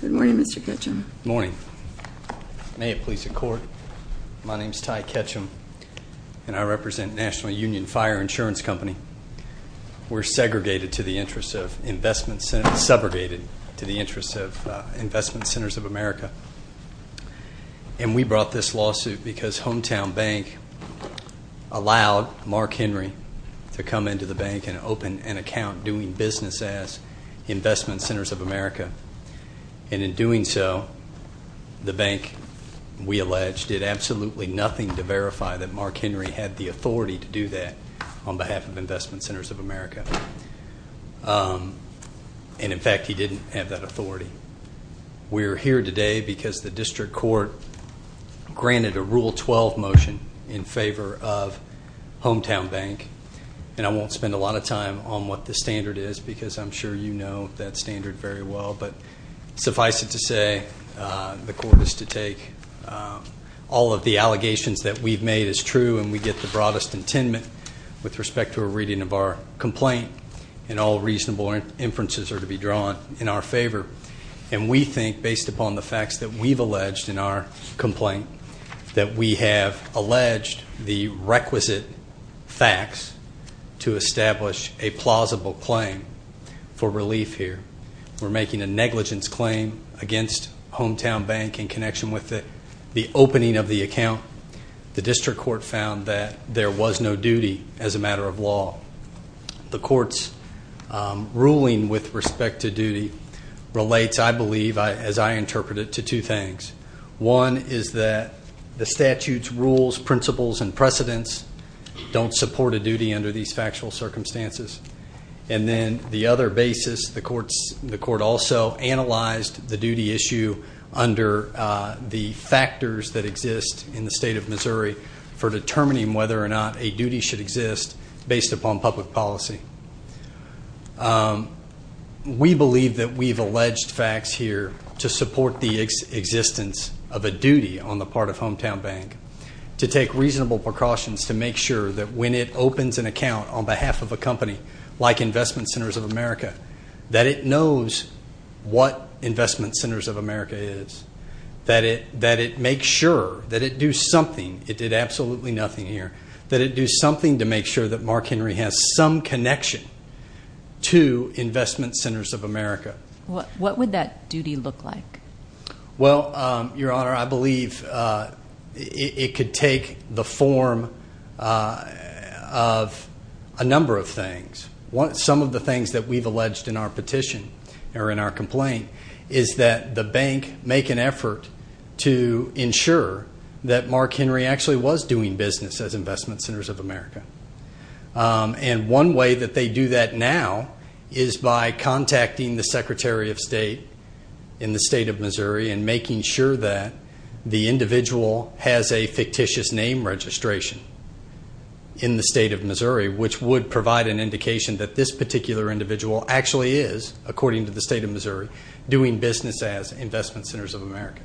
Good morning, Mr. Ketchum. Good morning. May it please the Court, my name is Ty Ketchum, and I represent National Union Fire Insurance Company. We're segregated to the interests of Investment Centers of America, and we brought this lawsuit because Hometown Bank allowed Mark Henry to come into the bank and open an account doing business as Investment Centers of America. And in doing so, the bank, we allege, did absolutely nothing to verify that Mark Henry had the authority to do that on behalf of Investment Centers of America. We're here today because the District Court granted a Rule 12 motion in favor of Hometown Bank, and I won't spend a lot of time on what the standard is because I'm sure you know that standard very well, but suffice it to say, the Court is to take all of the allegations that we've made as true and we get the broadest intendment with respect to a reading of our complaint and all reasonable inferences are to be drawn in our favor. And we think, based upon the facts that we've alleged in our complaint, that we have alleged the requisite facts to establish a plausible claim for relief here. We're making a negligence claim against Hometown Bank in connection with the opening of the account. The District Court found that there was no duty as a matter of law. The Court's ruling with respect to duty relates, I believe, as I interpret it, to two things. One is that the statute's rules, principles, and precedents don't support a duty under these factual circumstances. And then the other basis, the Court also analyzed the duty issue under the factors that exist in the State of Missouri for determining whether or not a duty should exist based upon public policy. We believe that we've alleged facts here to support the existence of a duty on the part of Hometown Bank to take reasonable precautions to make sure that when it opens an account on behalf of a company like Investment Centers of America, that it knows what Investment Centers of America is, that it makes sure, that it do something. It did absolutely nothing here. That it do something to make sure that Mark Henry has some connection to Investment Centers of America. What would that duty look like? Well, Your Honor, I believe it could take the form of a number of things. Some of the things that we've alleged in our petition, or in our complaint, is that the bank make an effort to ensure that Mark Henry actually was doing business as Investment Centers of America. And one way that they do that now is by contacting the Secretary of State in the State of Missouri and making sure that the individual has a fictitious name in the State of Missouri, which would provide an indication that this particular individual actually is, according to the State of Missouri, doing business as Investment Centers of America.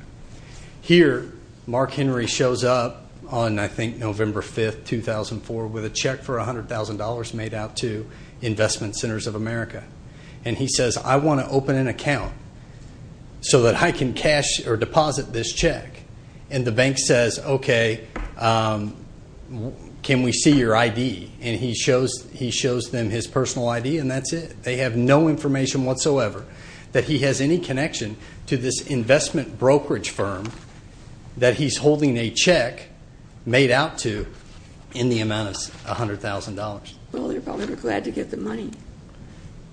Here, Mark Henry shows up on, I think, November 5, 2004, with a check for $100,000 made out to Investment Centers of America. And he says, I want to open an account so that I can cash or deposit this check. And the bank says, okay, can we see your ID? And he shows them his personal ID, and that's it. They have no information whatsoever that he has any connection to this investment brokerage firm that he's holding a check made out to in the amount of $100,000. Well, they're probably glad to get the money.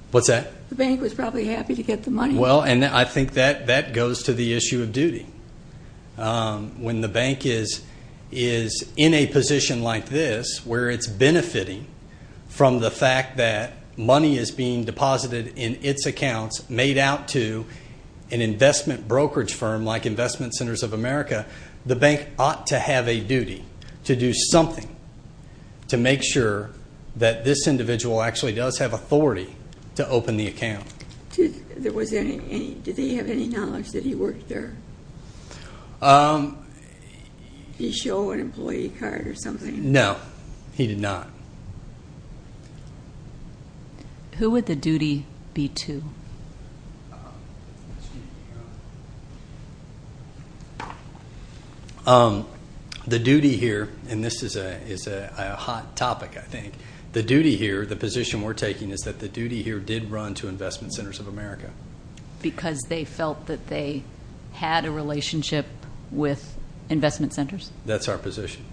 What's that? The bank was probably happy to get the money. Well, and I think that goes to the issue of duty. When the bank is in a position like this where it's benefiting from the fact that money is being deposited in its accounts made out to an investment brokerage firm like Investment Centers of America, the bank ought to have a duty to do something to make sure that this individual actually does have authority to open the account. Did they have any knowledge that he worked there? Did he show an employee card or something? No, he did not. Who would the duty be to? The duty here, and this is a hot topic, I think, the duty here, the position we're taking is that the duty here did run to Investment Centers of America. Because they felt that they had a relationship with Investment Centers? That's our position.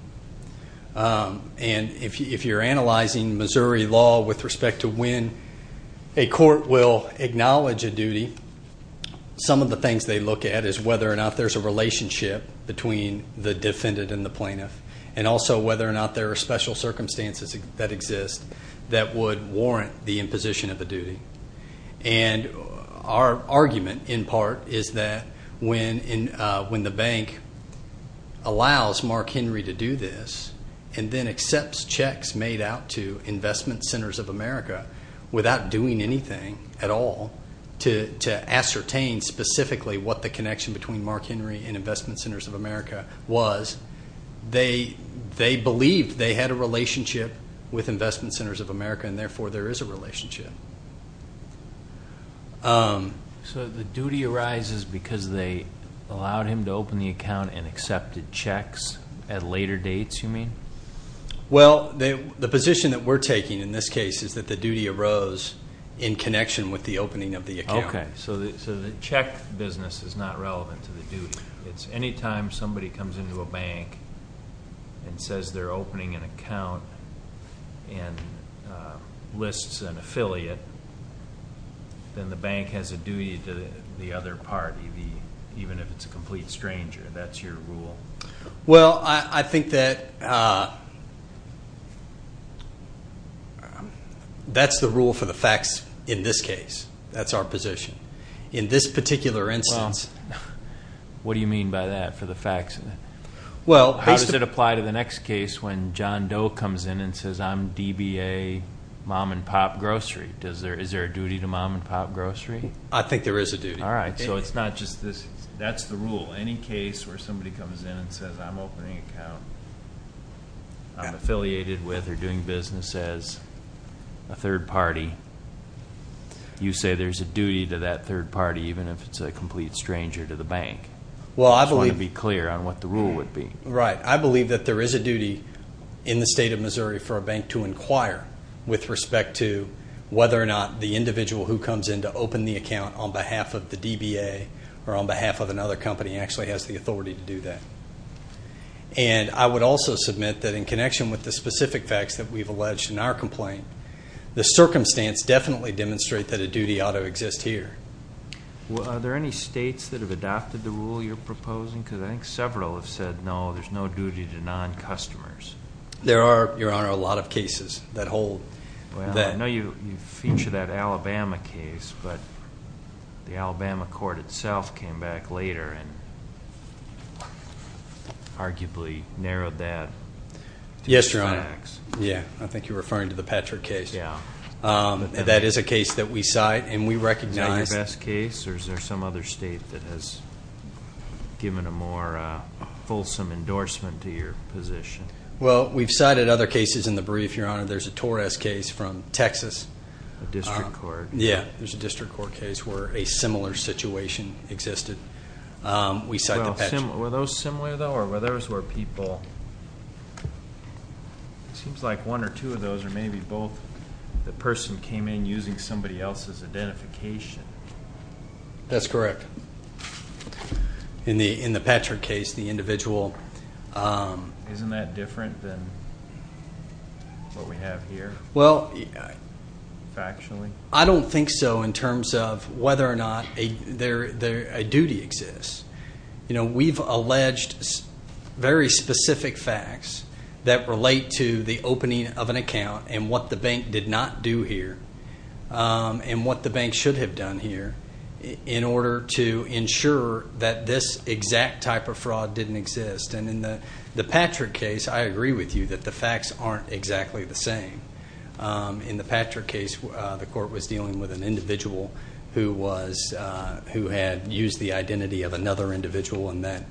And if you're analyzing Missouri law with respect to when a court will acknowledge a duty, some of the things they look at is whether or not there's a relationship between the defendant and the plaintiff, and also whether or not there are special circumstances that exist that would warrant the imposition of a duty. And our argument, in part, is that when the bank allows Mark Henry to do this and then accepts checks made out to Investment Centers of America without doing anything at all to ascertain specifically what the connection between Mark Henry and Investment Centers of America was, they believed they had a relationship with Investment Centers of America, and therefore there is a relationship. So the duty arises because they allowed him to open the account and accepted checks at later dates, you mean? Well, the position that we're taking in this case is that the duty arose in connection with the opening of the account. Okay, so the check business is not relevant to the duty. It's anytime somebody comes into a bank and says they're opening an account and lists an affiliate, then the bank has a duty to the other party, even if it's a complete stranger. That's your rule? Well, I think that that's the rule for the facts in this case. That's our position. In this particular instance. What do you mean by that for the facts? How does it apply to the next case when John Doe comes in and says, I'm DBA Mom and Pop Grocery? Is there a duty to Mom and Pop Grocery? I think there is a duty. All right, so it's not just this. That's the rule. Any case where somebody comes in and says, I'm opening an account I'm affiliated with or doing business as a third party, you say there's a duty to that third party, even if it's a complete stranger to the bank. I just want to be clear on what the rule would be. Right. I believe that there is a duty in the State of Missouri for a bank to inquire with respect to whether or not the individual who comes in to open the account on behalf of the DBA or on behalf of another company actually has the authority to do that. And I would also submit that in connection with the specific facts that we've alleged in our complaint, the circumstance definitely demonstrates that a duty ought to exist here. Are there any states that have adopted the rule you're proposing? Because I think several have said, no, there's no duty to non-customers. There are, Your Honor, a lot of cases that hold that. Well, I know you featured that Alabama case, but the Alabama court itself came back later and arguably narrowed that to the facts. Yes, Your Honor. Yes, I think you're referring to the Patrick case. Yes. That is a case that we cite and we recognize. Is that your best case, or is there some other state that has given a more fulsome endorsement to your position? Well, we've cited other cases in the brief, Your Honor. There's a Torres case from Texas. A district court. Yes, there's a district court case where a similar situation existed. We cite the Patrick. Were those similar, though, or were those where people seems like one or two of those or maybe both the person came in using somebody else's identification? That's correct. In the Patrick case, the individual. Isn't that different than what we have here factually? I don't think so in terms of whether or not a duty exists. We've alleged very specific facts that relate to the opening of an account and what the bank did not do here and what the bank should have done here in order to ensure that this exact type of fraud didn't exist. And in the Patrick case, I agree with you that the facts aren't exactly the same. In the Patrick case, the court was dealing with an individual who had used the identity of another individual and that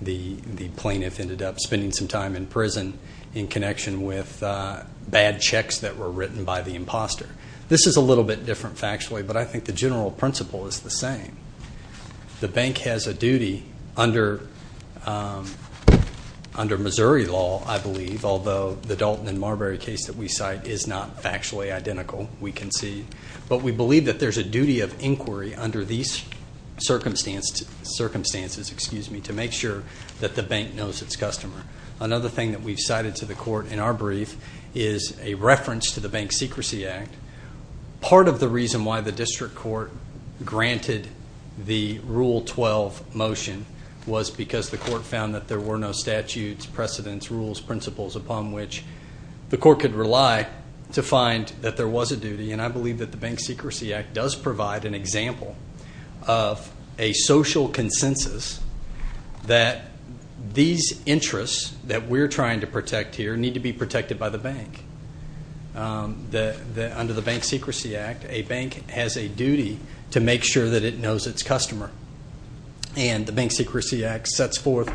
the plaintiff ended up spending some time in prison in connection with bad checks that were written by the imposter. This is a little bit different factually, but I think the general principle is the same. The bank has a duty under Missouri law, I believe, although the Dalton and Marbury case that we cite is not factually identical, we concede. But we believe that there's a duty of inquiry under these circumstances to make sure that the bank knows its customer. Another thing that we've cited to the court in our brief is a reference to the Bank Secrecy Act. Part of the reason why the district court granted the Rule 12 motion was because the court found that there were no statutes, precedents, rules, principles upon which the court could rely to find that there was a duty. And I believe that the Bank Secrecy Act does provide an example of a social consensus that these interests that we're trying to protect here need to be protected by the bank. Under the Bank Secrecy Act, a bank has a duty to make sure that it knows its customer. And the Bank Secrecy Act sets forth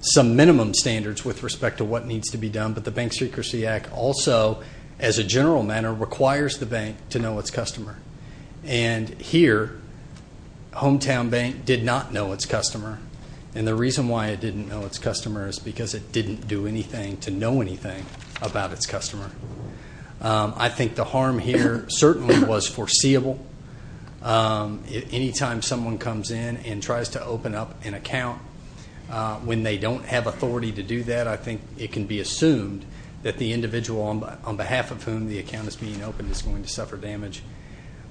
some minimum standards with respect to what needs to be done, but the Bank Secrecy Act also, as a general matter, requires the bank to know its customer. And here, Hometown Bank did not know its customer, and the reason why it didn't know its customer is because it didn't do anything to know anything about its customer. I think the harm here certainly was foreseeable. Anytime someone comes in and tries to open up an account when they don't have authority to do that, I think it can be assumed that the individual on behalf of whom the account is being opened is going to suffer damage.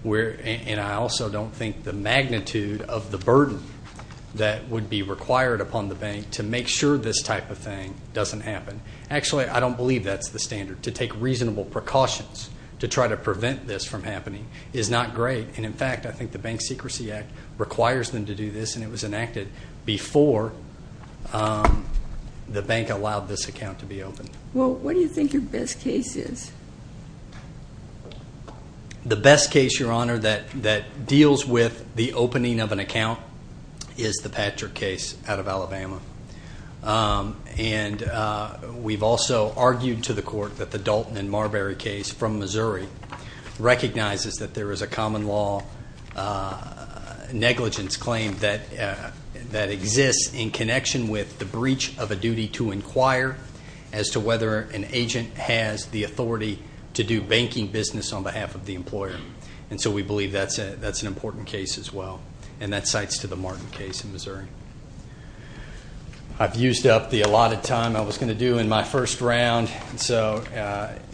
And I also don't think the magnitude of the burden that would be required upon the bank to make sure this type of thing doesn't happen. Actually, I don't believe that's the standard. To take reasonable precautions to try to prevent this from happening is not great. And, in fact, I think the Bank Secrecy Act requires them to do this, and it was enacted before the bank allowed this account to be opened. Well, what do you think your best case is? The best case, Your Honor, that deals with the opening of an account is the Patrick case out of Alabama. And we've also argued to the court that the Dalton and Marbury case from Missouri recognizes that there is a common law negligence claim that exists in connection with the breach of a duty to inquire as to whether an agent has the authority to do banking business on behalf of the employer. And so we believe that's an important case as well, and that cites to the Martin case in Missouri. I've used up the allotted time I was going to do in my first round, and so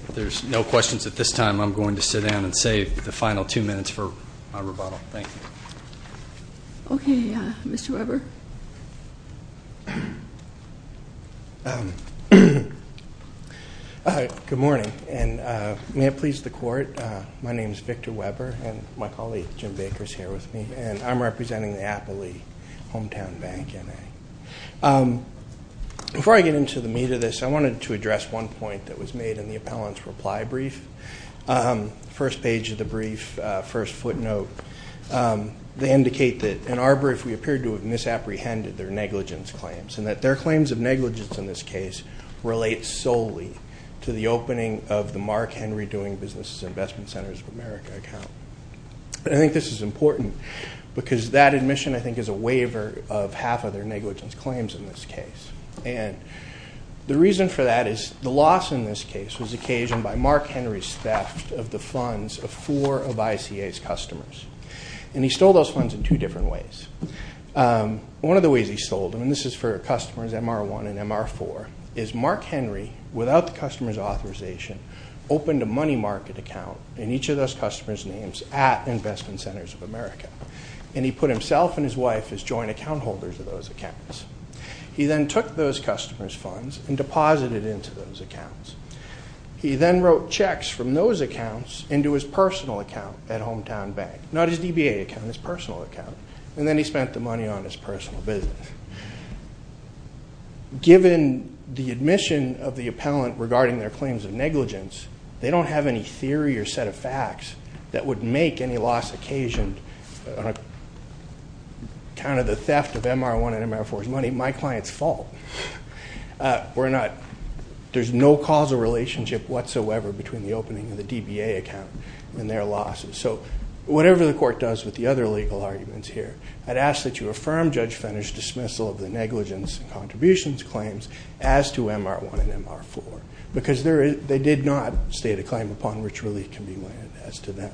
if there's no questions at this time, I'm going to sit down and save the final two minutes for my rebuttal. Thank you. Okay. Mr. Weber? Good morning, and may it please the Court, my name is Victor Weber, and my colleague Jim Baker is here with me, and I'm representing the Appley Hometown Bank. Before I get into the meat of this, I wanted to address one point that was made in the appellant's reply brief. First page of the brief, first footnote. They indicate that in our brief we appeared to have misapprehended their negligence claims, and that their claims of negligence in this case relate solely to the opening of the Mark Henry Doing Businesses Investment Centers of America account. I think this is important because that admission, I think, is a waiver of half of their negligence claims in this case, and the reason for that is the loss in this case was occasioned by Mark Henry's theft of the funds of four of ICA's customers, and he stole those funds in two different ways. One of the ways he sold them, and this is for customers MR1 and MR4, is Mark Henry, without the customer's authorization, opened a money market account in each of those customers' names at Investment Centers of America, and he put himself and his wife as joint account holders of those accounts. He then took those customers' funds and deposited it into those accounts. He then wrote checks from those accounts into his personal account at Hometown Bank, not his DBA account, his personal account, and then he spent the money on his personal business. Given the admission of the appellant regarding their claims of negligence, they don't have any theory or set of facts that would make any loss occasioned on account of the theft of MR1 and MR4's money my client's fault. There's no causal relationship whatsoever between the opening of the DBA account and their losses. So whatever the court does with the other legal arguments here, I'd ask that you affirm Judge Fenner's dismissal of the negligence and contributions claims as to MR1 and MR4 because they did not state a claim upon which relief can be landed as to them.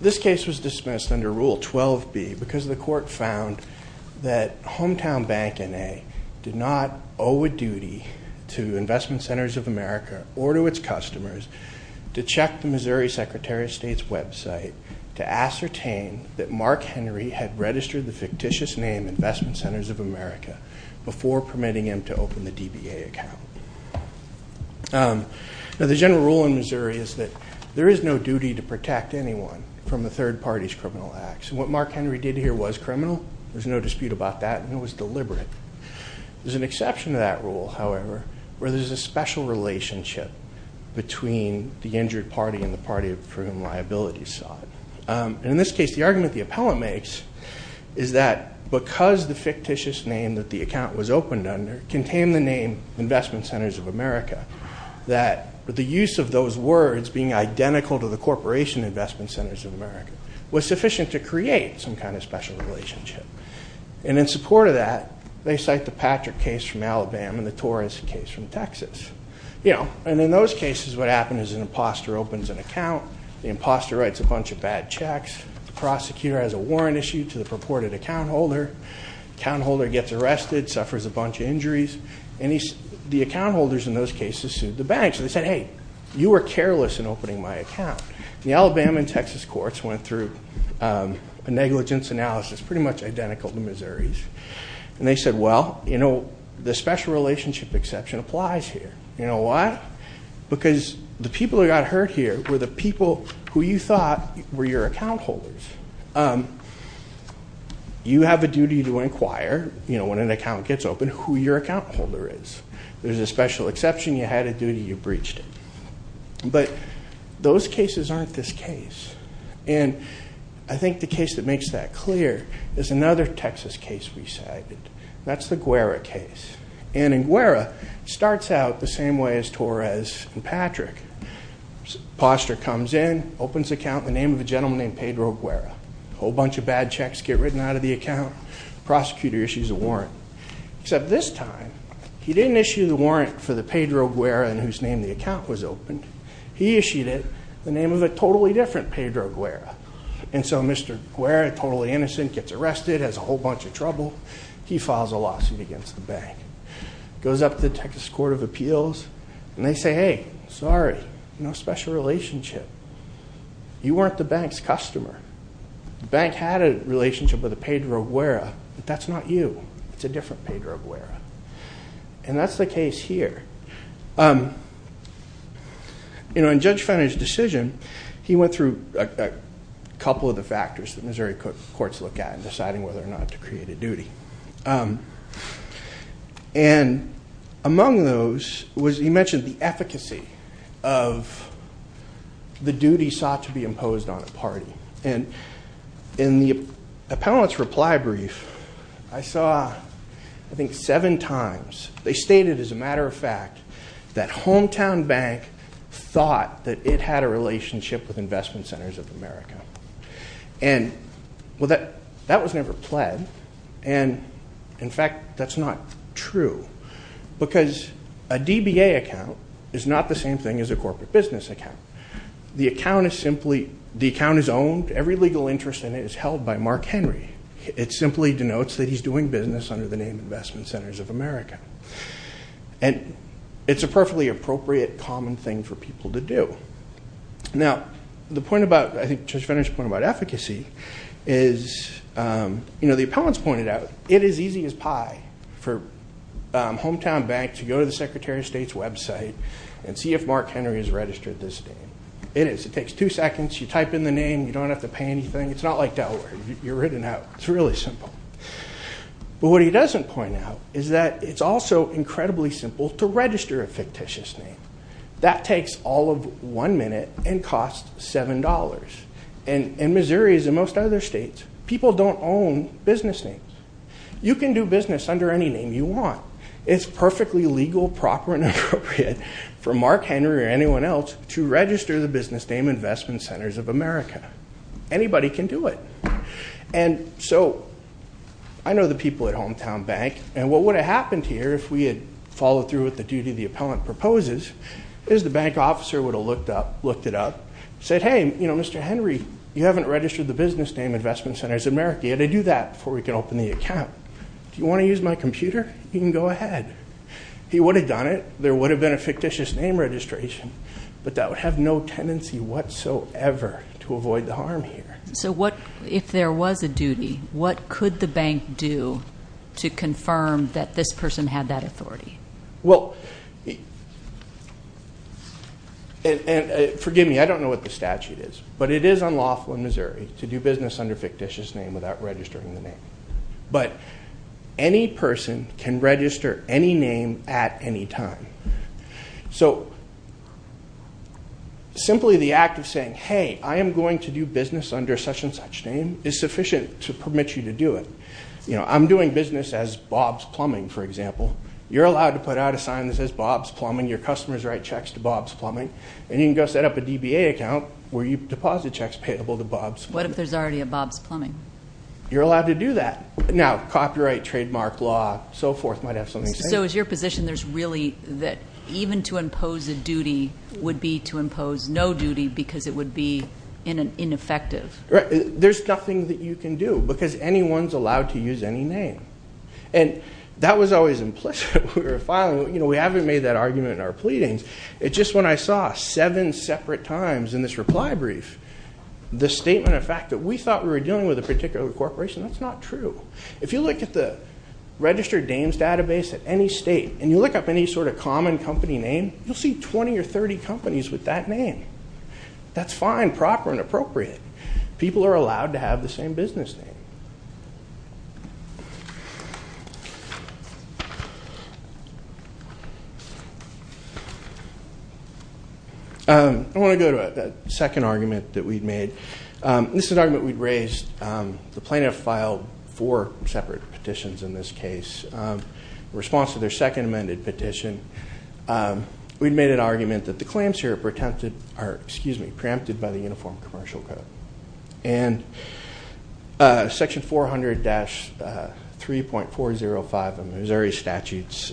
This case was dismissed under Rule 12b because the court found that Hometown Bank N.A. did not owe a duty to Investment Centers of America or to its customers to check the Missouri Secretary of State's website to ascertain that Mark Henry had registered the fictitious name Investment Centers of America before permitting him to open the DBA account. Now, the general rule in Missouri is that there is no duty to protect anyone from a third party's criminal acts, and what Mark Henry did here was criminal. There's no dispute about that, and it was deliberate. There's an exception to that rule, however, where there's a special relationship between the injured party and the party for whom liability is sought. In this case, the argument the appellant makes is that because the fictitious name that the account was opened under contained the name Investment Centers of America, that the use of those words being identical to the corporation Investment Centers of America was sufficient to create some kind of special relationship. And in support of that, they cite the Patrick case from Alabama and the Torres case from Texas. And in those cases, what happened is an imposter opens an account. The imposter writes a bunch of bad checks. The prosecutor has a warrant issue to the purported account holder. The account holder gets arrested, suffers a bunch of injuries, and the account holders in those cases sued the banks. They said, hey, you were careless in opening my account. The Alabama and Texas courts went through a negligence analysis pretty much identical to Missouri's. And they said, well, you know, the special relationship exception applies here. You know why? Because the people who got hurt here were the people who you thought were your account holders. You have a duty to inquire, you know, when an account gets opened, who your account holder is. There's a special exception. You had a duty. You breached it. But those cases aren't this case. And I think the case that makes that clear is another Texas case we cited. That's the Guerra case. And in Guerra, it starts out the same way as Torres and Patrick. Imposter comes in, opens account, the name of a gentleman named Pedro Guerra. A whole bunch of bad checks get written out of the account. The prosecutor issues a warrant. Except this time, he didn't issue the warrant for the Pedro Guerra in whose name the account was opened. He issued it the name of a totally different Pedro Guerra. And so Mr. Guerra, totally innocent, gets arrested, has a whole bunch of trouble. He files a lawsuit against the bank. Goes up to the Texas Court of Appeals, and they say, hey, sorry, no special relationship. You weren't the bank's customer. The bank had a relationship with the Pedro Guerra, but that's not you. It's a different Pedro Guerra. And that's the case here. In Judge Finney's decision, he went through a couple of the factors that Missouri courts look at in deciding whether or not to create a duty. And among those was he mentioned the efficacy of the duty sought to be imposed on a party. And in the appellant's reply brief, I saw I think seven times they stated, as a matter of fact, that hometown bank thought that it had a relationship with Investment Centers of America. And, well, that was never pled. And, in fact, that's not true because a DBA account is not the same thing as a corporate business account. The account is owned. Every legal interest in it is held by Mark Henry. It simply denotes that he's doing business under the name Investment Centers of America. And it's a perfectly appropriate, common thing for people to do. Now, the point about, I think, Judge Finney's point about efficacy is, you know, the appellant's pointed out, it is easy as pie for hometown banks to go to the Secretary of State's website and see if Mark Henry has registered this name. It is. It takes two seconds. You type in the name. You don't have to pay anything. It's not like Delaware. You're written out. It's really simple. But what he doesn't point out is that it's also incredibly simple to register a fictitious name. That takes all of one minute and costs $7. In Missouri, as in most other states, people don't own business names. You can do business under any name you want. It's perfectly legal, proper, and appropriate for Mark Henry or anyone else to register the business name Investment Centers of America. Anybody can do it. And so I know the people at Hometown Bank. And what would have happened here if we had followed through with the duty the appellant proposes is the bank officer would have looked it up, said, hey, you know, Mr. Henry, you haven't registered the business name Investment Centers of America. You've got to do that before we can open the account. Do you want to use my computer? You can go ahead. He would have done it. There would have been a fictitious name registration. But that would have no tendency whatsoever to avoid the harm here. So if there was a duty, what could the bank do to confirm that this person had that authority? Well, forgive me, I don't know what the statute is. But it is unlawful in Missouri to do business under a fictitious name without registering the name. But any person can register any name at any time. So simply the act of saying, hey, I am going to do business under such and such name is sufficient to permit you to do it. You know, I'm doing business as Bob's Plumbing, for example. You're allowed to put out a sign that says Bob's Plumbing. Your customers write checks to Bob's Plumbing. And you can go set up a DBA account where you deposit checks payable to Bob's Plumbing. What if there's already a Bob's Plumbing? You're allowed to do that. Now, copyright, trademark, law, so forth might have something to say. So is your position there's really that even to impose a duty would be to impose no duty because it would be ineffective? There's nothing that you can do because anyone's allowed to use any name. And that was always implicit when we were filing. You know, we haven't made that argument in our pleadings. It's just when I saw seven separate times in this reply brief the statement of fact that we thought we were dealing with a particular corporation. That's not true. If you look at the registered names database at any state and you look up any sort of common company name, you'll see 20 or 30 companies with that name. That's fine, proper, and appropriate. People are allowed to have the same business name. I want to go to a second argument that we've made. This is an argument we've raised. The plaintiff filed four separate petitions in this case in response to their second amended petition. We've made an argument that the claims here are preempted by the Uniform Commercial Code. And Section 400-3.405 of Missouri statutes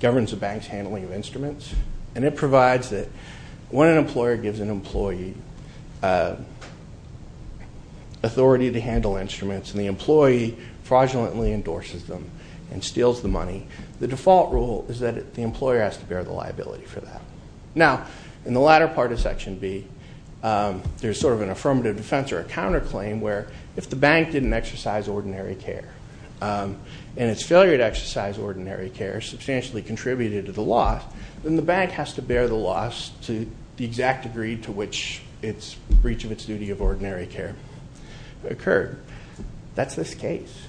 governs the bank's handling of instruments. And it provides that when an employer gives an employee authority to handle instruments and the employee fraudulently endorses them and steals the money, the default rule is that the employer has to bear the liability for that. Now, in the latter part of Section B, there's sort of an affirmative defense or a counterclaim where if the bank didn't exercise ordinary care and its failure to exercise ordinary care substantially contributed to the loss, then the bank has to bear the loss to the exact degree to which its breach of its duty of ordinary care occurred. That's this case.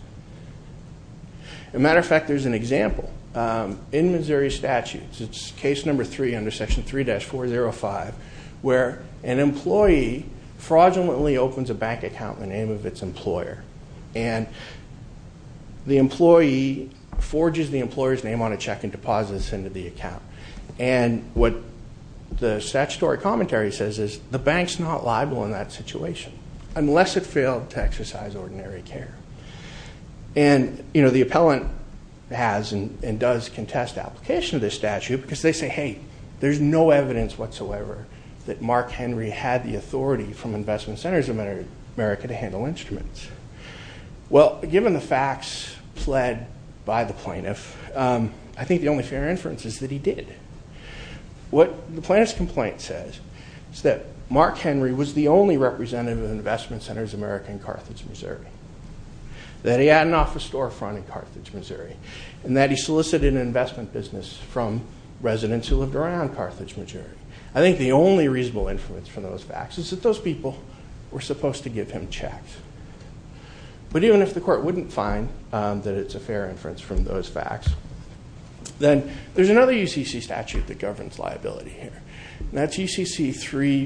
As a matter of fact, there's an example in Missouri statutes. It's case number three under Section 3-405 where an employee fraudulently opens a bank account in the name of its employer. And the employee forges the employer's name on a check and deposits it into the account. And what the statutory commentary says is the bank's not liable in that situation unless it failed to exercise ordinary care. And, you know, the appellant has and does contest application of this statute because they say, hey, there's no evidence whatsoever that Mark Henry had the authority from Investment Centers of America to handle instruments. Well, given the facts pled by the plaintiff, I think the only fair inference is that he did. What the plaintiff's complaint says is that Mark Henry was the only representative of Investment Centers of America in Carthage, Missouri, that he had an office storefront in Carthage, Missouri, and that he solicited an investment business from residents who lived around Carthage, Missouri. I think the only reasonable inference from those facts is that those people were supposed to give him checks. But even if the court wouldn't find that it's a fair inference from those facts, then there's another UCC statute that governs liability here, and that's UCC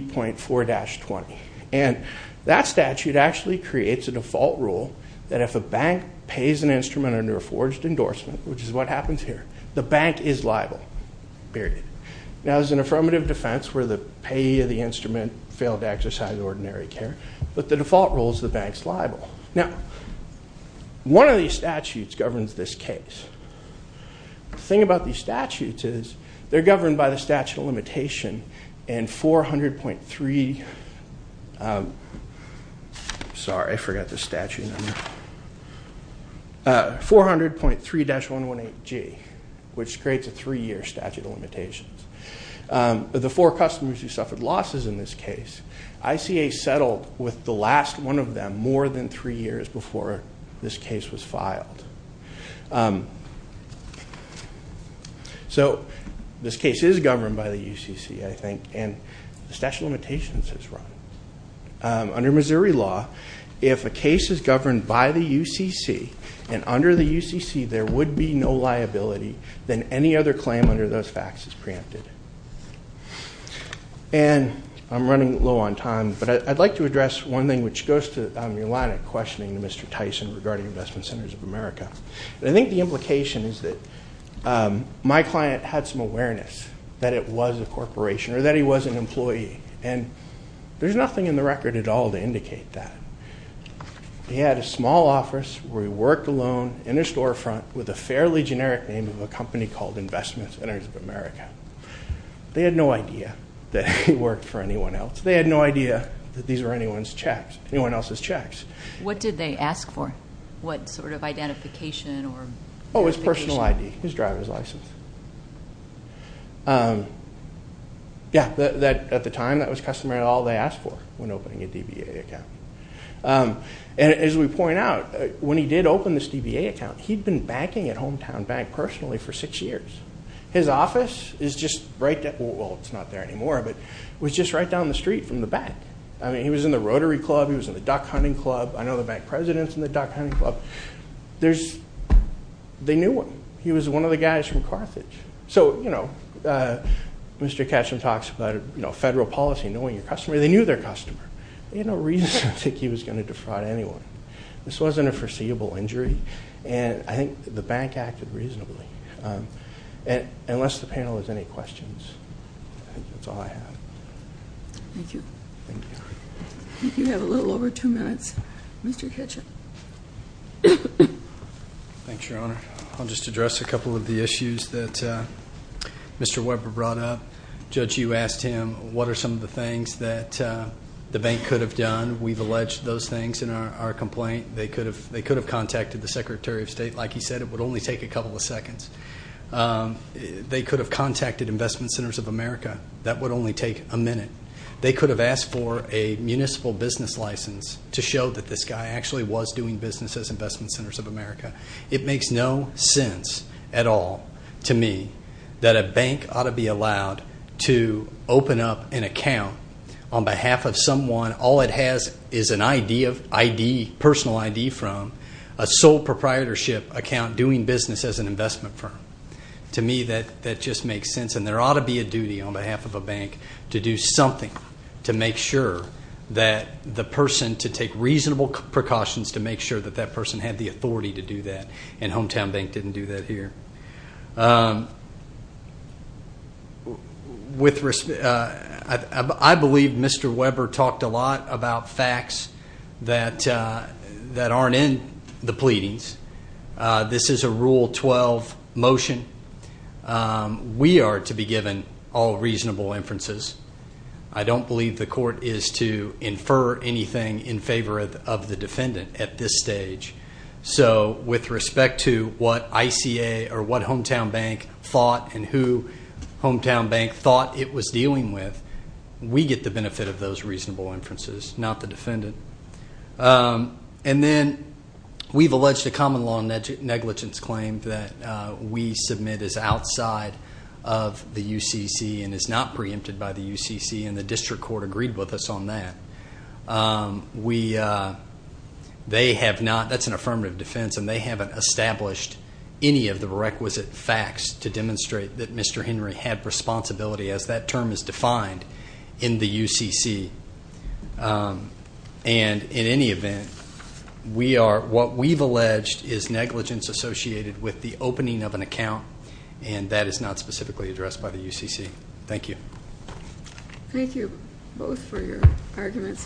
3.4-20. And that statute actually creates a default rule that if a bank pays an instrument under a forged endorsement, which is what happens here, the bank is liable, period. Now, there's an affirmative defense where the payee of the instrument failed to exercise ordinary care, but the default rule is the bank's liable. Now, one of these statutes governs this case. The thing about these statutes is they're governed by the statute of limitation and 400.3. Sorry, I forgot the statute number. 400.3-118G, which creates a three-year statute of limitations. Of the four customers who suffered losses in this case, ICA settled with the last one of them more than three years before this case was filed. So this case is governed by the UCC, I think, and the statute of limitations is wrong. Under Missouri law, if a case is governed by the UCC and under the UCC there would be no liability, then any other claim under those facts is preempted. And I'm running low on time, but I'd like to address one thing, which goes to your line of questioning to Mr. Tyson regarding Investment Centers of America. And I think the implication is that my client had some awareness that it was a corporation or that he was an employee, and there's nothing in the record at all to indicate that. He had a small office where he worked alone in a storefront with a fairly generic name of a company called Investment Centers of America. They had no idea that he worked for anyone else. They had no idea that these were anyone else's checks. What did they ask for? What sort of identification or verification? Oh, his personal ID, his driver's license. Yeah, at the time that was customary, all they asked for when opening a DBA account. And as we point out, when he did open this DBA account, he'd been banking at Hometown Bank personally for six years. His office is just right down the street from the bank. I mean, he was in the Rotary Club, he was in the Duck Hunting Club, I know the bank president's in the Duck Hunting Club. They knew him. He was one of the guys from Carthage. So, you know, Mr. Ketchum talks about federal policy, knowing your customer. They knew their customer. They had no reason to think he was going to defraud anyone. This wasn't a foreseeable injury, and I think the bank acted reasonably. Unless the panel has any questions, I think that's all I have. Thank you. Thank you. You have a little over two minutes. Mr. Ketchum. Thanks, Your Honor. I'll just address a couple of the issues that Mr. Weber brought up. Judge, you asked him what are some of the things that the bank could have done. We've alleged those things in our complaint. They could have contacted the Secretary of State. Like he said, it would only take a couple of seconds. They could have contacted Investment Centers of America. That would only take a minute. They could have asked for a municipal business license to show that this guy actually was doing business as Investment Centers of America. It makes no sense at all to me that a bank ought to be allowed to open up an account on behalf of someone all it has is an ID, personal ID from, a sole proprietorship account doing business as an investment firm. To me, that just makes sense, and there ought to be a duty on behalf of a bank to do something to make sure that the person to take reasonable precautions to make sure that that person had the authority to do that, and Hometown Bank didn't do that here. I believe Mr. Weber talked a lot about facts that aren't in the pleadings. This is a Rule 12 motion. We are to be given all reasonable inferences. I don't believe the court is to infer anything in favor of the defendant at this stage. So with respect to what ICA or what Hometown Bank thought and who Hometown Bank thought it was dealing with, we get the benefit of those reasonable inferences, not the defendant. And then we've alleged a common law negligence claim that we submit is outside of the UCC and is not preempted by the UCC, and the district court agreed with us on that. That's an affirmative defense, and they haven't established any of the requisite facts to demonstrate that Mr. Henry had responsibility as that term is defined in the UCC. And in any event, what we've alleged is negligence associated with the opening of an account, and that is not specifically addressed by the UCC. Thank you. Thank you both for your arguments.